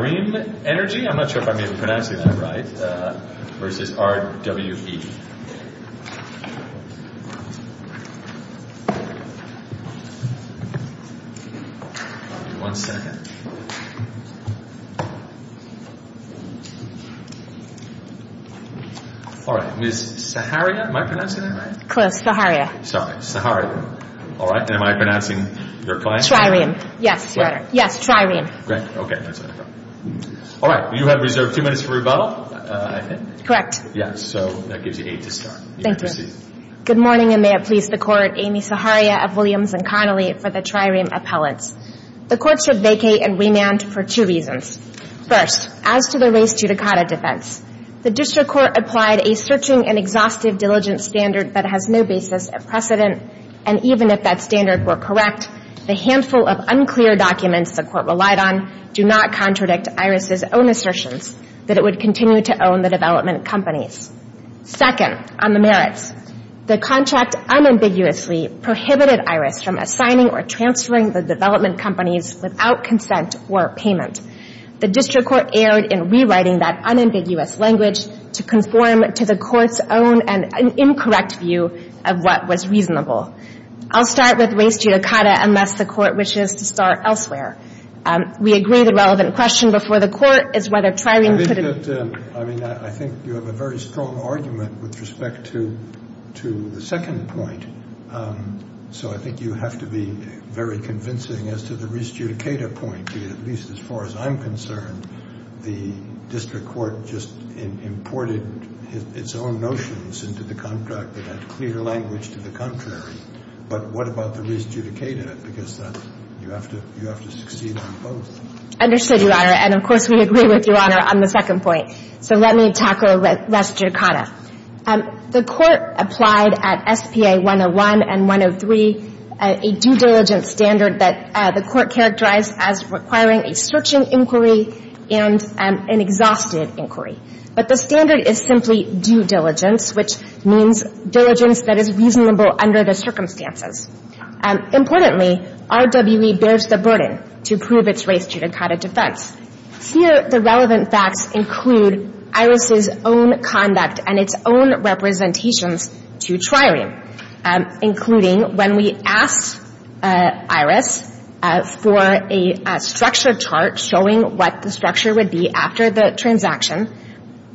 TRIREME Energy Good morning and may it please the Court, Amy Saharia of Williams & Connolly for the TRIREME Appellants. The Court should vacate and remand for two reasons. First, as to the Race to Dakota defense, the District Court applied a searching and exhaustive diligence standard that has no basis of precedent, and even if that standard were correct, the handful of unclear documents the Court relied on do not contradict Iris' own assertions that it would continue to own the development companies. Second, on the merits, the contract unambiguously prohibited Iris from assigning or transferring the development companies without consent or payment. The District Court erred in rewriting that unambiguous language to conform to the Court's own and incorrect view of what was reasonable. I'll start with Race to Dakota unless the Court wishes to start elsewhere. We agree the relevant question before the Court is whether TRIREME could have been I think you have a very strong argument with respect to the second point. So I think you have to be very convincing as to the Race to Dakota point, at least as far as I'm concerned, the District Court just imported its own notions into the contract that had clear language to the contrary, but what about the Race to Dakota? Because you have to succeed on both. Understood, Your Honor, and, of course, we agree with Your Honor on the second point. So let me tackle Race to Dakota. The Court applied at SPA 101 and 103 a due diligence standard that the Court characterized as requiring a searching inquiry and an exhaustive inquiry. But the standard is simply due diligence, which means diligence that is reasonable under the circumstances. Importantly, RWE bears the burden to prove its Race to Dakota defense. Here, the relevant facts include IRIS's own conduct and its own representations to TRIREME, including when we asked IRIS for a structure chart showing what the structure would be after the transaction,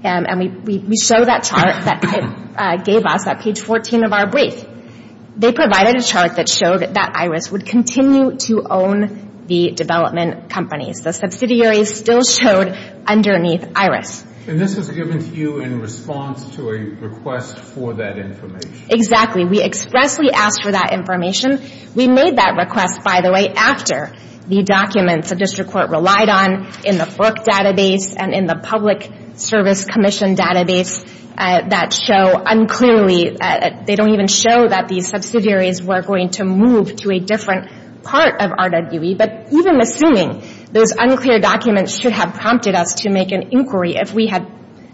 and we show that chart that gave us at page 14 of our brief. They provided a chart that showed that IRIS would continue to own the development companies. The subsidiaries still showed underneath IRIS. And this was given to you in response to a request for that information? Exactly. We expressly asked for that information. We made that request, by the way, after the documents the District Court relied on in the FERC database and in the Public Service Commission database that show unclearly, they don't even show that these subsidiaries were going to move to a different part of RWE. But even assuming those unclear documents should have prompted us to make an inquiry if we had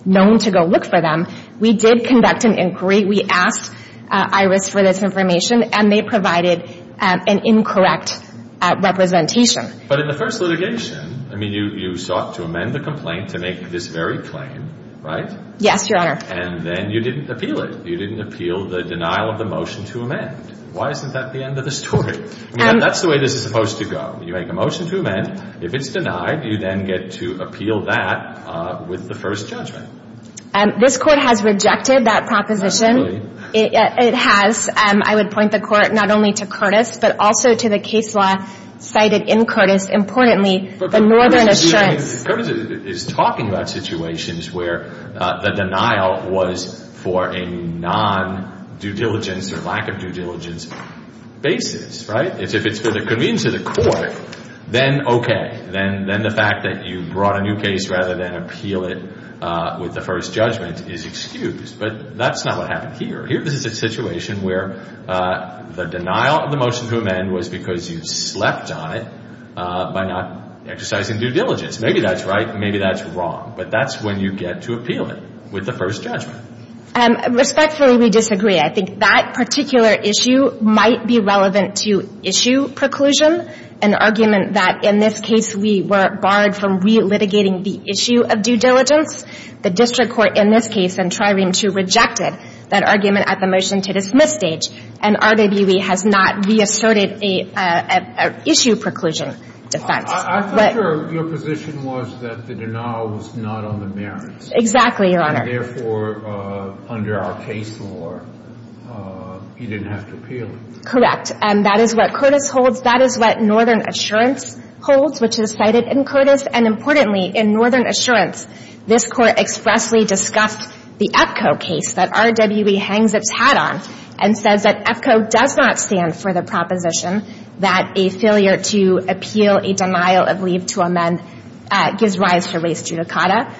known to go look for them, we did conduct an inquiry. We asked IRIS for this information, and they provided an incorrect representation. But in the first litigation, I mean, you sought to amend the complaint to make this very claim, right? Yes, Your Honor. And then you didn't appeal it. You didn't appeal the denial of the motion to amend. Why isn't that the end of the story? I mean, that's the way this is supposed to go. You make a motion to amend. If it's denied, you then get to appeal that with the first judgment. This Court has rejected that proposition. It has. Yes. I would point the Court not only to Curtis, but also to the case law cited in Curtis, importantly, the Northern Assurance. But Curtis is talking about situations where the denial was for a non-due diligence or lack of due diligence basis, right? If it's for the convenience of the Court, then okay. Then the fact that you brought a new case rather than appeal it with the first judgment is excused. But that's not what happened here. Here, this is a situation where the denial of the motion to amend was because you slept on it by not exercising due diligence. Maybe that's right. Maybe that's wrong. But that's when you get to appeal it with the first judgment. Respectfully, we disagree. I think that particular issue might be relevant to issue preclusion, an argument that in this case we were barred from re-litigating the issue of due diligence. The district court in this case in Trireme II rejected that argument at the motion to dismiss stage. And RWE has not re-asserted an issue preclusion defense. I think your position was that the denial was not on the merits. Exactly, Your Honor. And therefore, under our case law, you didn't have to appeal it. Correct. And that is what Curtis holds. That is what Northern Assurance holds, which is cited in Curtis. And importantly, in Northern Assurance, this Court expressly discussed the EPCO case that RWE hangs its hat on and says that EPCO does not stand for the proposition that a failure to appeal a denial of leave to amend gives rise to res judicata.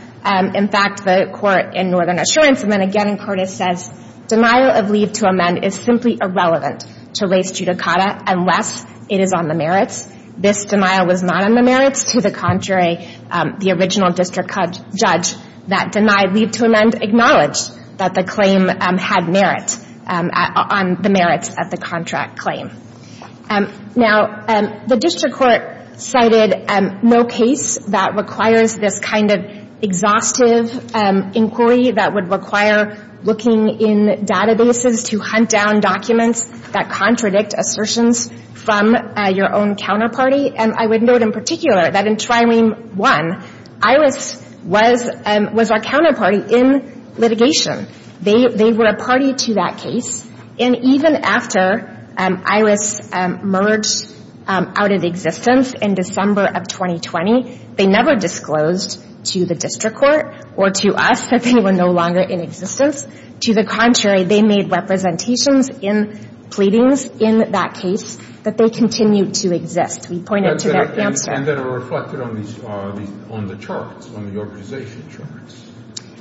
In fact, the Court in Northern Assurance, and then again in Curtis, says denial of leave to amend is simply irrelevant to res judicata unless it is on the merits. This denial was not on the merits. To the contrary, the original district judge that denied leave to amend acknowledged that the claim had merit on the merits of the contract claim. Now, the district court cited no case that requires this kind of exhaustive inquiry that would require looking in databases to hunt down documents that contradict assertions from your own counterparty. And I would note in particular that in Trirene 1, Iris was our counterparty in litigation. They were a party to that case. And even after Iris emerged out of existence in December of 2020, they never disclosed to the district court or to us that they were no longer in existence. To the contrary, they made representations in pleadings in that case that they continued to exist, we pointed to that answer. And that are reflected on these, on the charts, on the organization charts.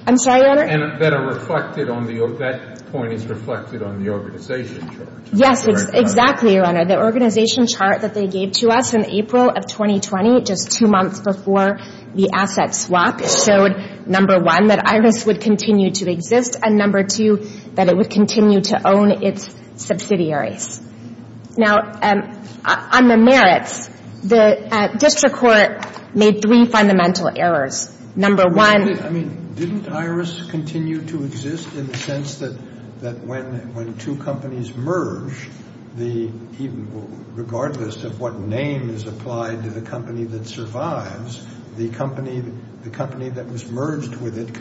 I'm sorry, Your Honor? And that are reflected on the, that point is reflected on the organization charts. Yes, exactly, Your Honor. The organization chart that they gave to us in April of 2020, just two months before the asset swap, showed, number one, that Iris would continue to exist, and number two, that it would continue to own its subsidiaries. Now, on the merits, the district court made three fundamental errors. Number one. I mean, didn't Iris continue to exist in the sense that when two companies merge, regardless of what name is applied to the company that survives, the company that was merged with it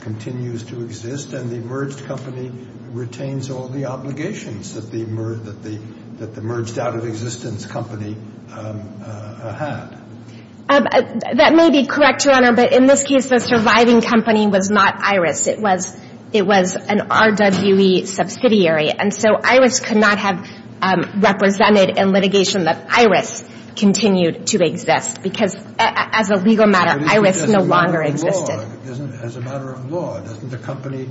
continues to exist, and the merged company retains all the obligations that the merged out of existence company had. That may be correct, Your Honor, but in this case, the surviving company was not Iris. It was an RWE subsidiary, and so Iris could not have represented in litigation that Iris continued to exist, because as a legal matter, Iris no longer existed. As a matter of law, doesn't the company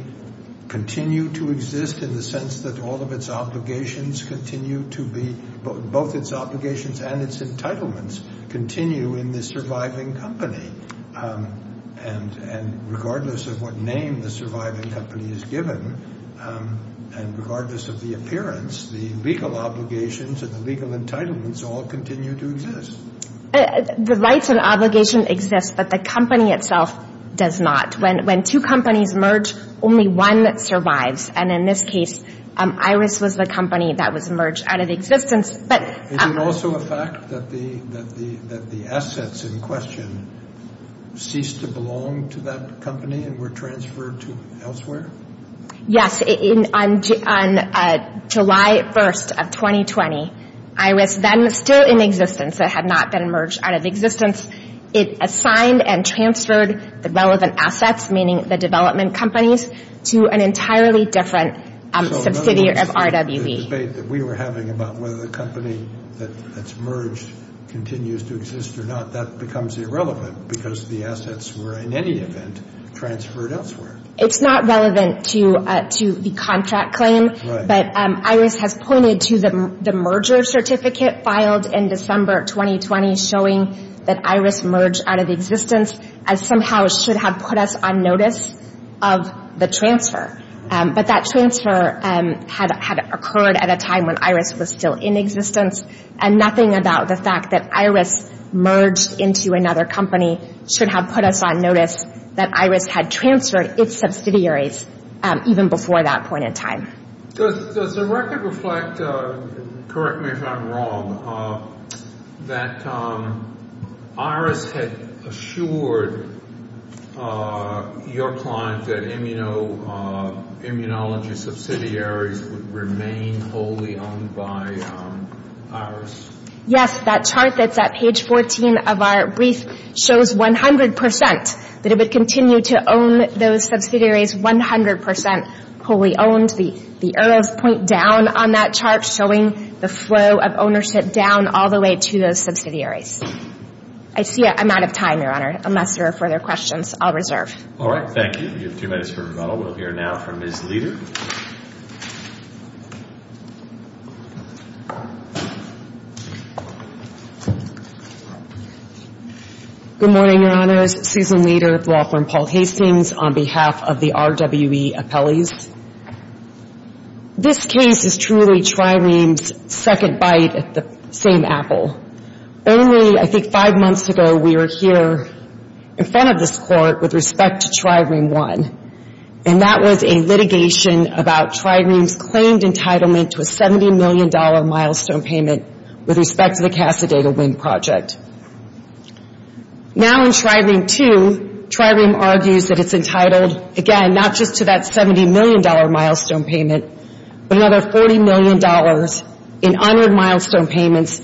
continue to exist in the sense that all of its obligations continue to be, both its obligations and its entitlements, continue in the surviving company, and regardless of what name the surviving company is given, and regardless of the appearance, the legal obligations and the legal entitlements all continue to exist? The rights and obligation exist, but the company itself does not. When two companies merge, only one survives, and in this case, Iris was the company that was merged out of existence, but. Is it also a fact that the assets in question ceased to belong to that company and were transferred to elsewhere? Yes. On July 1st of 2020, Iris then was still in existence. It had not been merged out of existence. It assigned and transferred the relevant assets, meaning the development companies, to an entirely different subsidiary of RWE. So in other words, the debate that we were having about whether the company that's merged continues to exist or not, that becomes irrelevant, because the assets were, in any event, transferred elsewhere. It's not relevant to the contract claim, but Iris has pointed to the merger certificate filed in December 2020 showing that Iris merged out of existence as somehow should have put us on notice of the transfer. But that transfer had occurred at a time when Iris was still in existence, and nothing about the fact that Iris merged into another company should have put us on notice that Iris had transferred its subsidiaries even before that point in time. Does the record reflect, correct me if I'm wrong, that Iris had assured your client that immunology subsidiaries would remain wholly owned by Iris? Yes. That chart that's at page 14 of our brief shows 100% that it would continue to own those subsidiaries 100% wholly owned. The arrows point down on that chart showing the flow of ownership down all the way to those subsidiaries. I see I'm out of time, Your Honor, unless there are further questions. I'll reserve. All right. Thank you. You have two minutes for rebuttal. We'll hear now from Ms. Leder. Good morning, Your Honors. Susan Leder, law firm Paul Hastings, on behalf of the RWE appellees. This case is truly TriReam's second bite at the same apple. Only, I think, five months ago, we were here in front of this court with respect to TriReam One. And that was a litigation about TriReam's claimed entitlement to a $70 million milestone payment with respect to the Casadena Wind Project. Now in TriReam Two, TriReam argues that it's entitled, again, not just to that $70 million milestone payment, but another $40 million in honored milestone payments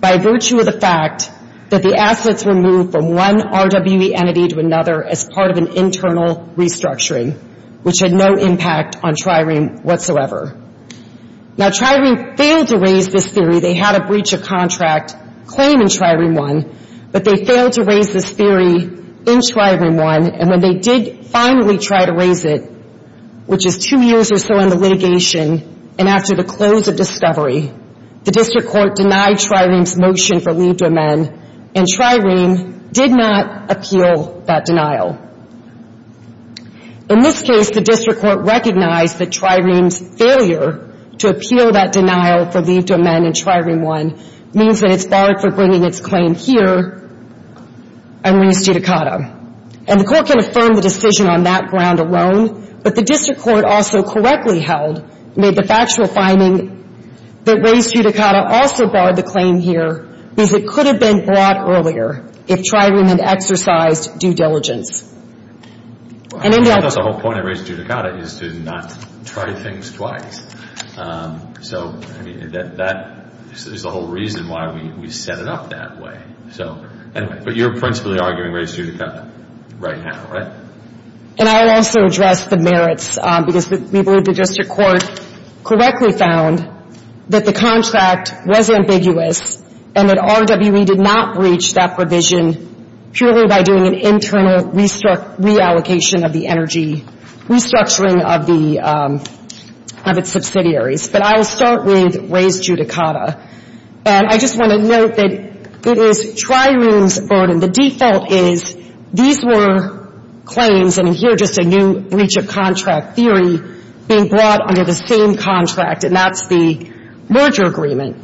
by virtue of the fact that the assets were moved from one RWE entity to another as part of an internal restructuring, which had no impact on TriReam whatsoever. Now TriReam failed to raise this theory. They had a breach of contract claim in TriReam One, but they failed to raise this theory in TriReam One. And when they did finally try to raise it, which is two years or so in the litigation, and after the close of discovery, the district court denied TriReam's motion for leave to amend, and TriReam did not appeal that denial. In this case, the district court recognized that TriReam's failure to appeal that denial for leave to amend in TriReam One means that it's barred for bringing its claim here and raised judicata. And the court can affirm the decision on that ground alone, but the district court also correctly held, made the factual finding that raised judicata also barred the claim here because it could have been brought earlier if TriReam had exercised due diligence. And in the end of the whole point of raised judicata is to not try things twice. So, I mean, that is the whole reason why we set it up that way. So, anyway, but you're principally arguing raised judicata right now, right? And I'll also address the merits because we believe the district court correctly found that the contract was ambiguous and that RWE did not breach that provision purely by doing an internal reallocation of the energy, restructuring of its subsidiaries. But I'll start with raised judicata. And I just want to note that it is TriReam's burden. The default is these were claims, and here just a new breach of contract theory, being brought under the same contract, and that's the merger agreement.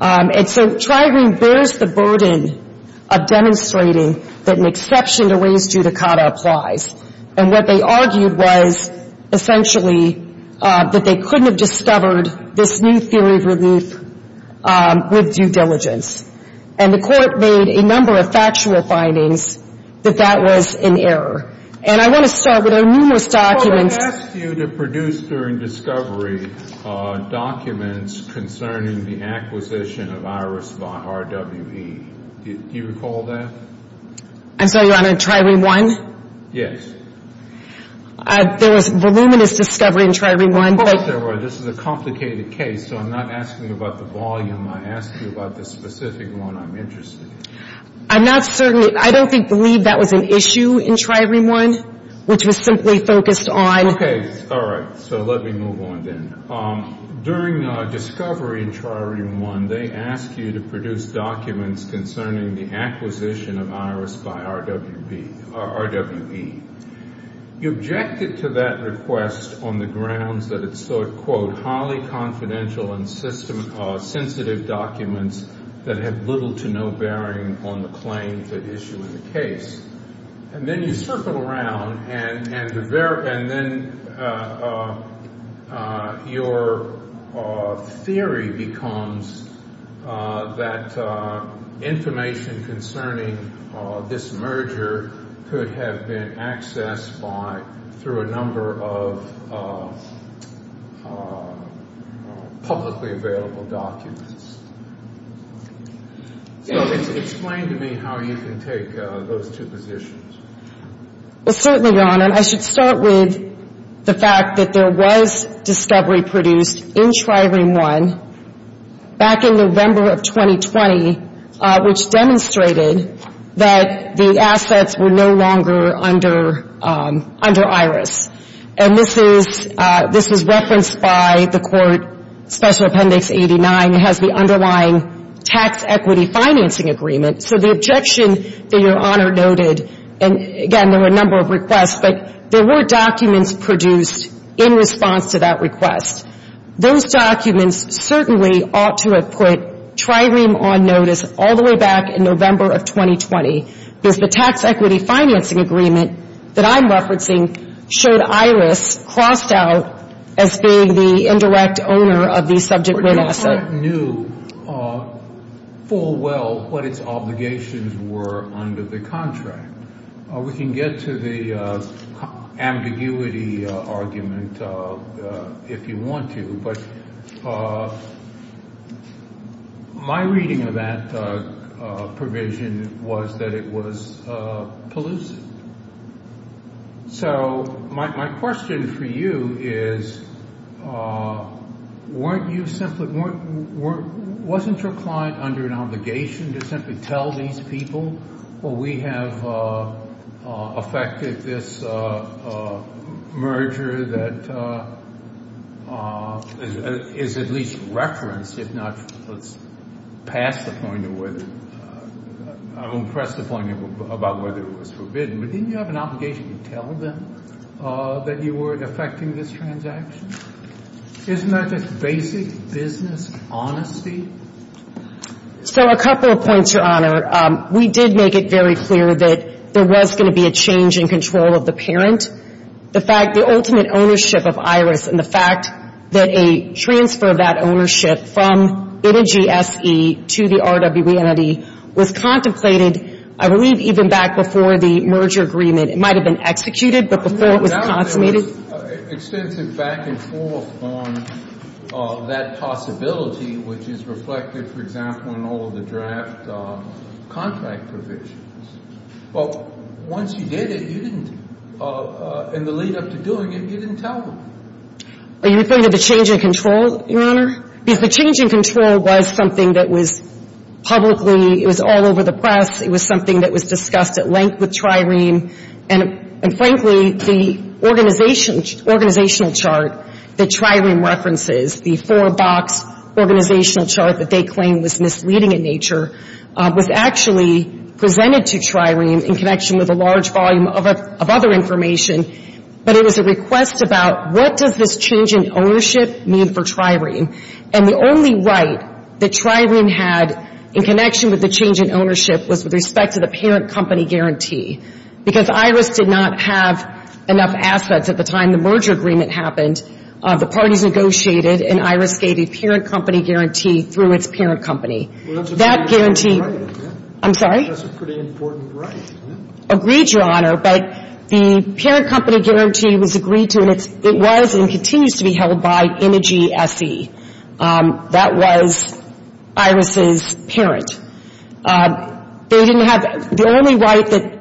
And so TriReam bears the burden of demonstrating that an exception to raised judicata applies. And what they argued was essentially that they couldn't have discovered this new theory of relief with due diligence. And the Court made a number of factual findings that that was an error. And I want to start with our numerous documents. I asked you to produce during discovery documents concerning the acquisition of IRIS by RWE. Do you recall that? I'm sorry, Your Honor, TriReam 1? Yes. There was voluminous discovery in TriReam 1. Of course there were. This is a complicated case, so I'm not asking you about the volume. I'm asking you about the specific one I'm interested in. I'm not certain. I don't believe that was an issue in TriReam 1, which was simply focused on the case. All right. So let me move on then. During discovery in TriReam 1, they asked you to produce documents concerning the acquisition of IRIS by RWE. You objected to that request on the grounds that it sought, quote, highly confidential and sensitive documents that have little to no bearing on the claims at issue in the case. And then you circle around, and then your theory becomes that information concerning this merger could have been accessed by, through a number of publicly available documents. So explain to me how you can take those two positions. Well, certainly, Your Honor. I should start with the fact that there was discovery produced in TriReam 1 back in November of 2020, which demonstrated that the assets were no longer under IRIS. And this is referenced by the Court Special Appendix 89. It has the underlying tax equity financing agreement. So the objection that Your Honor noted, and again, there were a number of requests, but there were documents produced in response to that request. Those documents certainly ought to have put TriReam on notice all the way back in November of 2020, because the tax equity financing agreement that I'm referencing showed IRIS crossed out as being the indirect owner of the subject-related asset. But Your Honor, I knew full well what its obligations were under the contract. We can get to the ambiguity argument if you want to, but my reading of that provision was that it was pollutant. So my question for you is, wasn't your client under an obligation to simply tell these people, well, we have affected this merger that is at least referenced, if not, let's pass the point of whether — I won't press the point about whether it was forbidden, but didn't you have an obligation to tell them that you were affecting this transaction? Isn't that just basic business honesty? So a couple of points, Your Honor. We did make it very clear that there was going to be a change in control of the parent. The fact — the ultimate ownership of IRIS and the fact that a transfer of that ownership from Biden GSE to the RWE entity was contemplated, I believe, even back before the merger agreement. It might have been executed, but before it was consummated — And there was extensive back and forth on that possibility, which is reflected, for example, in all of the draft contract provisions. But once you did it, you didn't — in the lead-up to doing it, you didn't tell them. Are you referring to the change in control, Your Honor? Because the change in control was something that was publicly — it was all over the press. It was something that was discussed at length with Trireme. And frankly, the organizational chart that Trireme references, the four-box organizational chart that they claim was misleading in nature, was actually presented to Trireme in connection with a large volume of other information. But it was a request about what does this change in ownership mean for Trireme? And the only right that Trireme had in connection with the change in ownership was with respect to the parent company guarantee. Because IRIS did not have enough assets at the time the merger agreement happened, the parties negotiated, and IRIS gave a parent company guarantee through its parent company. That guarantee — Well, that's a pretty important right, isn't it? I'm sorry? That's a pretty important right, isn't it? Agreed, Your Honor. But the parent company guarantee was agreed to, and it was and continues to be held by Energy SE. That was IRIS's parent. They didn't have — The only right that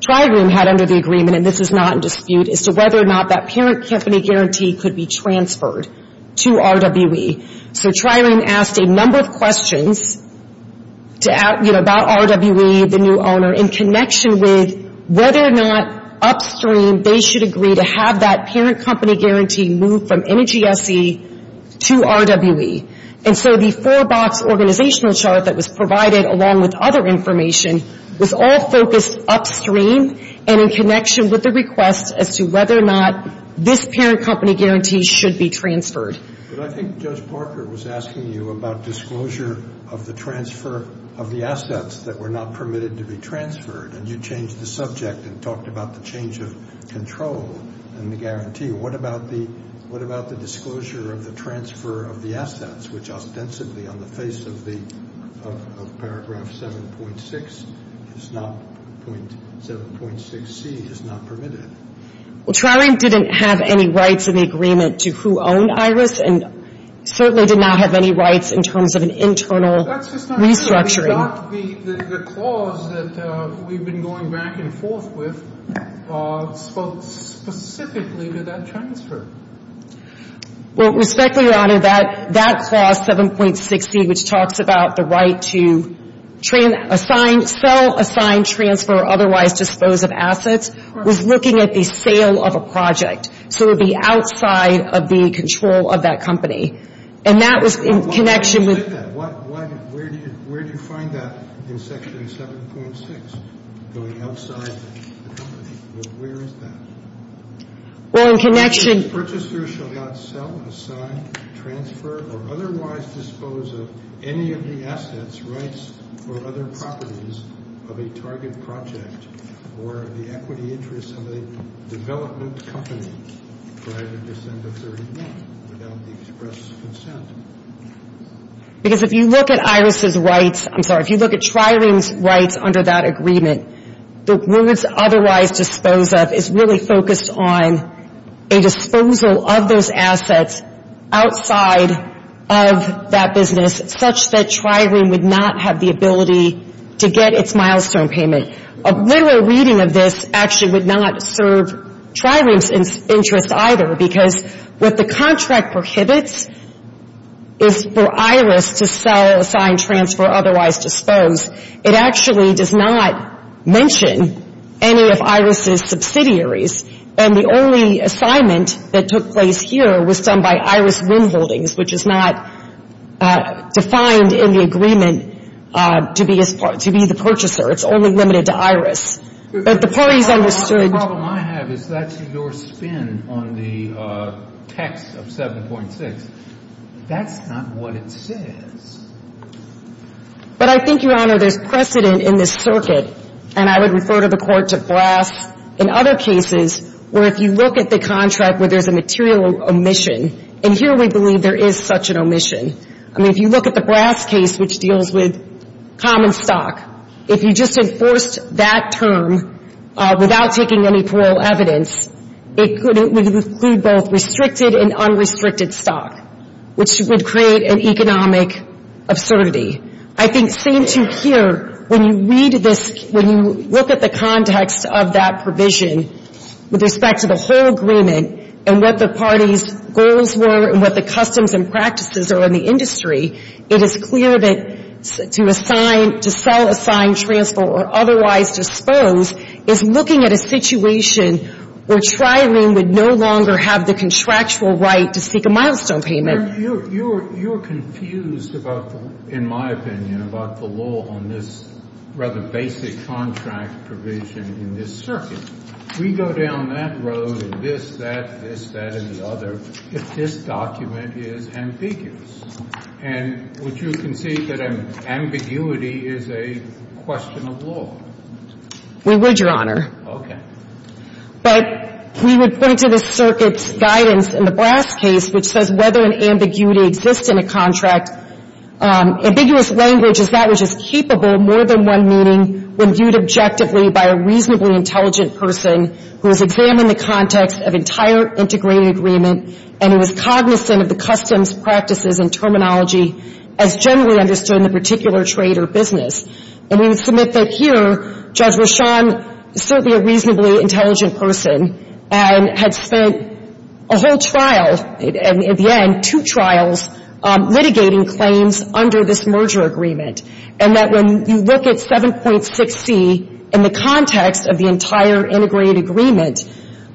Trireme had under the agreement, and this is not in dispute, is to whether or not that parent company guarantee could be transferred to RWE. So Trireme asked a number of questions to — you know, about RWE, the new owner, in connection with whether or not upstream they should agree to have that parent company guarantee moved from Energy SE to RWE. And so the four-box organizational chart that was provided, along with other information, was all focused upstream and in connection with the request as to whether or not this parent company guarantee should be transferred. But I think Judge Parker was asking you about disclosure of the transfer of the assets that were not permitted to be transferred, and you changed the subject and talked about the change of control and the guarantee. What about the disclosure of the transfer of the assets, which ostensibly on the face of paragraph 7.6 is not — 7.6c is not permitted? Trireme didn't have any rights in the agreement to who owned IRIS, and certainly did not have any rights in terms of an internal restructuring. But the clause that we've been going back and forth with spoke specifically to that transfer. Well, respectfully, Your Honor, that clause, 7.6c, which talks about the right to sell, assign, transfer, or otherwise dispose of assets, was looking at the sale of a project. So it would be outside of the control of that company. And that was in connection with — Say that. Where do you find that in Section 7.6? Going outside the company. Well, where is that? Well, in connection — IRIS purchasers shall not sell, assign, transfer, or otherwise dispose of any of the assets, rights, or other properties of a target project or of the equity interests of a development company prior to December 31 without the express consent. Because if you look at IRIS's rights — I'm sorry, if you look at Trireme's rights under that agreement, the words otherwise dispose of is really focused on a disposal of those assets outside of that business such that Trireme would not have the ability to get its milestone payment. A literal reading of this actually would not serve Trireme's interest either because what the contract prohibits is for IRIS to sell, assign, transfer, or otherwise dispose. It actually does not mention any of IRIS's subsidiaries. And the only assignment that took place here was done by IRIS Windholdings, which is not defined in the agreement to be the purchaser. It's only limited to IRIS. But the parties understood — The problem I have is that's your spin on the text of 7.6. That's not what it says. But I think, Your Honor, there's precedent in this circuit. And I would refer to the court to Brass in other cases where if you look at the contract where there's a material omission, and here we believe there is such an omission. I mean, if you look at the Brass case, which deals with common stock, if you just enforced that term without taking any plural evidence, it would include both restricted and unrestricted stock, which would create an economic absurdity. I think, same too here, when you read this, when you look at the context of that provision with respect to the whole agreement and what the parties' goals were and what the customs and practices are in the industry, it is clear that to sell, assign, transfer, or otherwise dispose is looking at a situation where trialing would no longer have the contractual right to seek a milestone payment. You're confused, in my opinion, about the law on this rather basic contract provision in this circuit. We go down that road and this, that, this, that, and the other if this document is ambiguous. And would you concede that ambiguity is a question of law? We would, Your Honor. Okay. But we would point to the circuit's guidance in the Brass case which says whether an ambiguity exists in a contract. Ambiguous language is that which is capable more than one meaning when viewed objectively by a reasonably intelligent person who has examined the context of entire integrated agreement and who is cognizant of the customs, practices, and terminology as generally understood in the particular trade or business. And we would submit that here, Judge Rashan is certainly a reasonably intelligent person and had spent a whole trial, at the end, two trials, litigating claims under this merger agreement. And that when you look at 7.6c in the context of the entire integrated agreement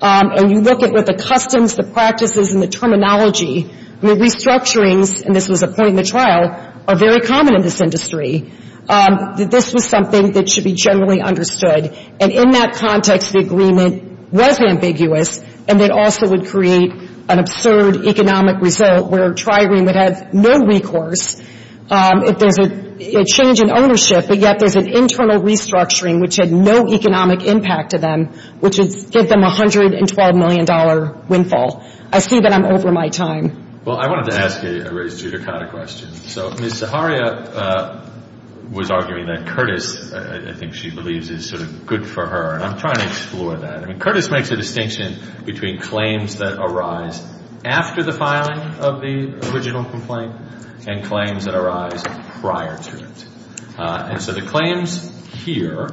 and you look at what the customs, the practices, and the terminology, the restructurings, and this was a point in the trial, are very common in this industry. This was something that should be generally understood. And in that context, the agreement was ambiguous and it also would create an absurd economic result where a tri-agreement would have no recourse if there's a change in ownership but yet there's an internal restructuring which had no economic impact to them which would give them a $112 million windfall. I assume that I'm over my time. Well, I wanted to ask a raised judicata question. So Ms. Zaharia was arguing that Curtis, I think she believes, is sort of good for her. And I'm trying to explore that. I mean, Curtis makes a distinction between claims that arise after the filing of the original complaint and claims that arise prior to it. And so the claims here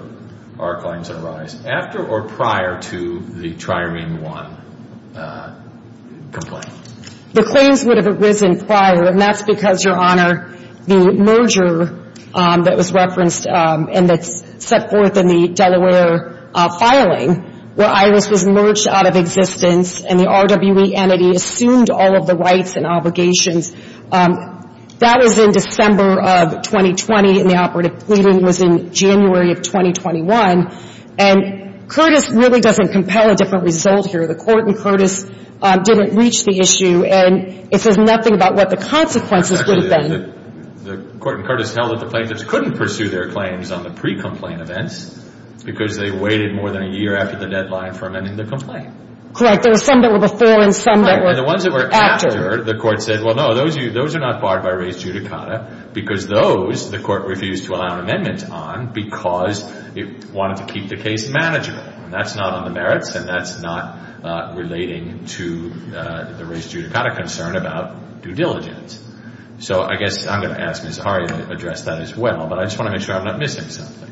are claims that arise after or prior to the tri-agreement one. Go ahead. The claims would have arisen prior and that's because, Your Honor, the merger that was referenced and that's set forth in the Delaware filing where Iris was merged out of existence and the RWE entity assumed all of the rights and obligations. That was in December of 2020 and the operative pleading was in January of 2021. And Curtis really doesn't compel a different result here. The court and Curtis didn't reach the issue and it says nothing about what the consequences would have been. The court and Curtis held that the plaintiffs couldn't pursue their claims on the pre-complaint events because they waited more than a year after the deadline for amending the complaint. Correct. There were some that were before and some that were after. And the ones that were after, the court said, well, no, those are not barred by raised judicata because those the court refused to allow an amendment on because it wanted to keep the case manageable. And that's not on the merits and that's not relating to the raised judicata concern about due diligence. So I guess I'm going to ask Ms. Harian to address that as well, but I just want to make sure I'm not missing something.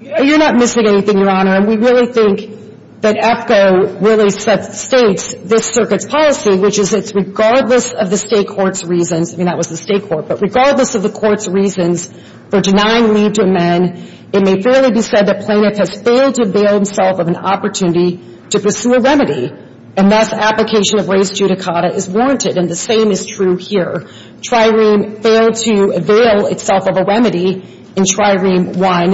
You're not missing anything, Your Honor, and we really think that EPCO really states this circuit's policy, which is it's regardless of the state court's reasons, I mean, that was the state court, but regardless of the court's reasons for denying leave to amend, it may fairly be said that plaintiff has failed to avail himself of an opportunity to pursue a remedy and thus application of raised judicata is warranted. And the same is true here. Trireme failed to avail itself of a remedy in Trireme 1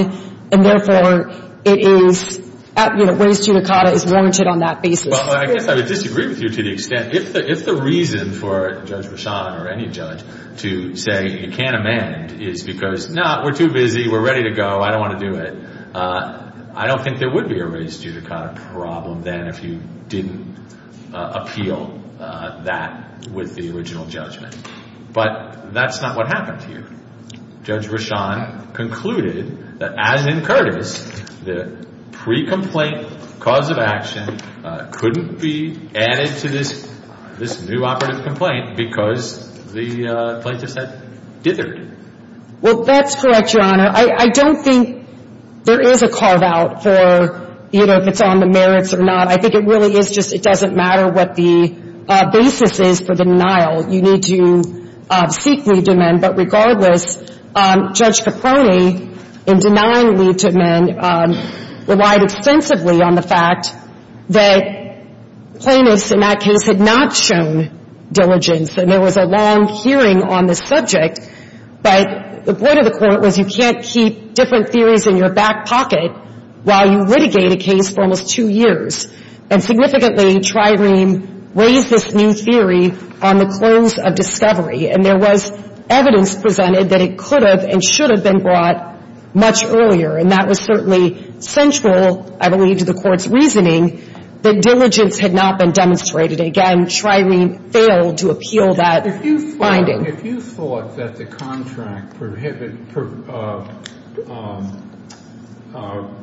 and therefore it is, you know, raised judicata is warranted on that basis. Well, I guess I would disagree with you to the extent if the reason for Judge Rashan or any judge to say you can't amend is because, no, we're too busy, we're ready to go, I don't want to do it. I don't think there would be a raised judicata problem then if you didn't appeal that with the original judgment. But that's not what happened here. Judge Rashan concluded that as in Curtis, the pre-complaint cause of action couldn't be added to this new operative complaint because the plaintiffs had dithered. Well, that's correct, Your Honor. I don't think there is a carve-out for, you know, if it's on the merits or not. I think it really is just it doesn't matter what the basis is for the denial. You need to seek leave to amend. But regardless, Judge Caproni, in denying leave to amend, relied extensively on the fact that the plaintiffs in that case had not shown diligence and there was a long hearing on this subject. But the point of the court was you can't keep different theories in your back pocket while you litigate a case for almost two years. And significantly, Trireme raised this new theory on the close of discovery. And there was evidence presented that it could have and should have been brought much earlier. And that was certainly central, I believe, to the court's reasoning that diligence had not been demonstrated. Again, Trireme failed to appeal that finding. If you thought that the contract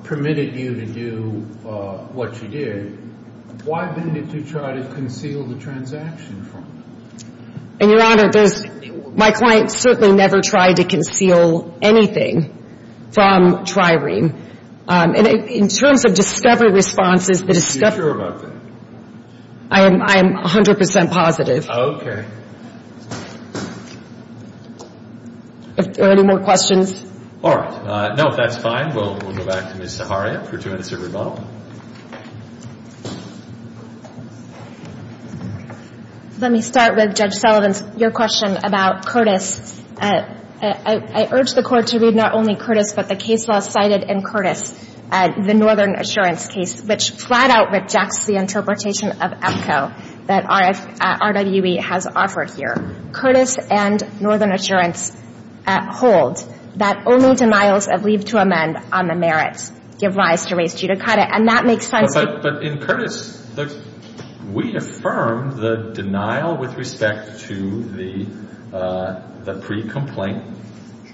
permitted you to do what you did, why didn't you try to conceal the transaction from them? And, Your Honor, my client certainly never tried to conceal anything from Trireme. And in terms of discovery responses Are you sure about that? I am 100% positive. Okay. Are there any more questions? All right. No, if that's fine, we'll go back to Ms. Zaharia for two minutes of rebuttal. Let me start with Judge Sullivan's your question about Curtis. I urge the court to read not only Curtis but the case law cited in Curtis, the Northern Assurance case, which flat out rejects the interpretation of EPCO that RWE has argued Curtis and Northern Assurance hold that only denials of leave to amend on the merits give rise to res judicata and that makes sense But in Curtis we affirm the denial with respect to the the pre-complaint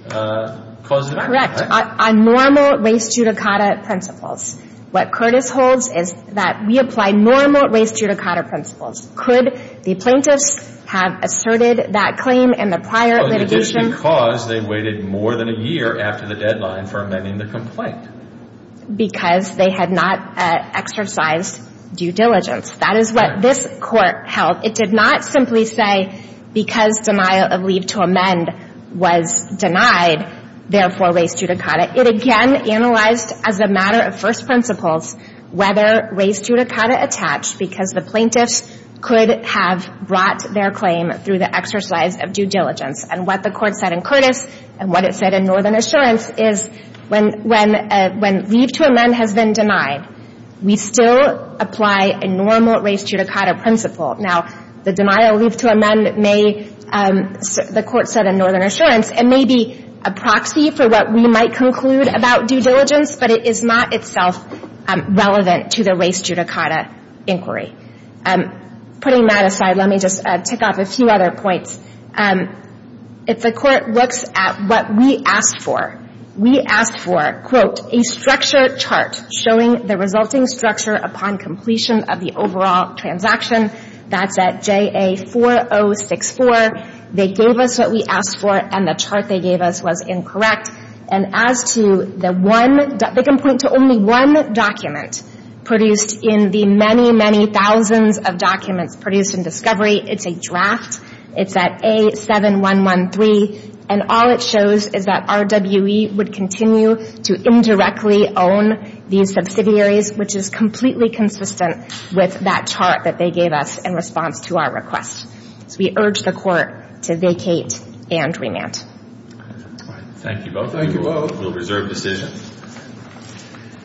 cause of death Correct. On normal res judicata principles what Curtis holds is that we apply normal res judicata principles Could the plaintiffs have asserted that claim in the prior litigation? Because they waited more than a year after the deadline for amending the complaint Because they had not exercised due diligence That is what this court held It did not simply say because denial of leave to amend was denied therefore res judicata It again analyzed as a matter of first principles whether res judicata attached because the plaintiffs could have brought their claim through the exercise of due diligence and what the court said in Curtis and what it said in Northern Assurance is when when leave to amend has been denied we still apply a normal res judicata principle Now the denial of leave to amend may the court said in Northern Assurance it may be a proxy for what we might conclude about due diligence but it is not itself relevant to the res judicata inquiry Putting that aside let me just tick off a few other points If the court looks at what we asked for we asked for quote a structure chart showing the resulting structure upon completion of the overall transaction that's at JA4064 they gave us what we asked for and the chart they gave us was incorrect and as to the one they can point to only one document produced in the many many thousands of documents produced in Discovery it's a draft it's at A7113 and all it shows is that RWE would continue to indirectly own these subsidiaries which is completely consistent with that chart that they gave us in response to our request So we urge the court to vacate and remand Thank you both Thank you all Thank you Thank you Thank you Thank you Thank you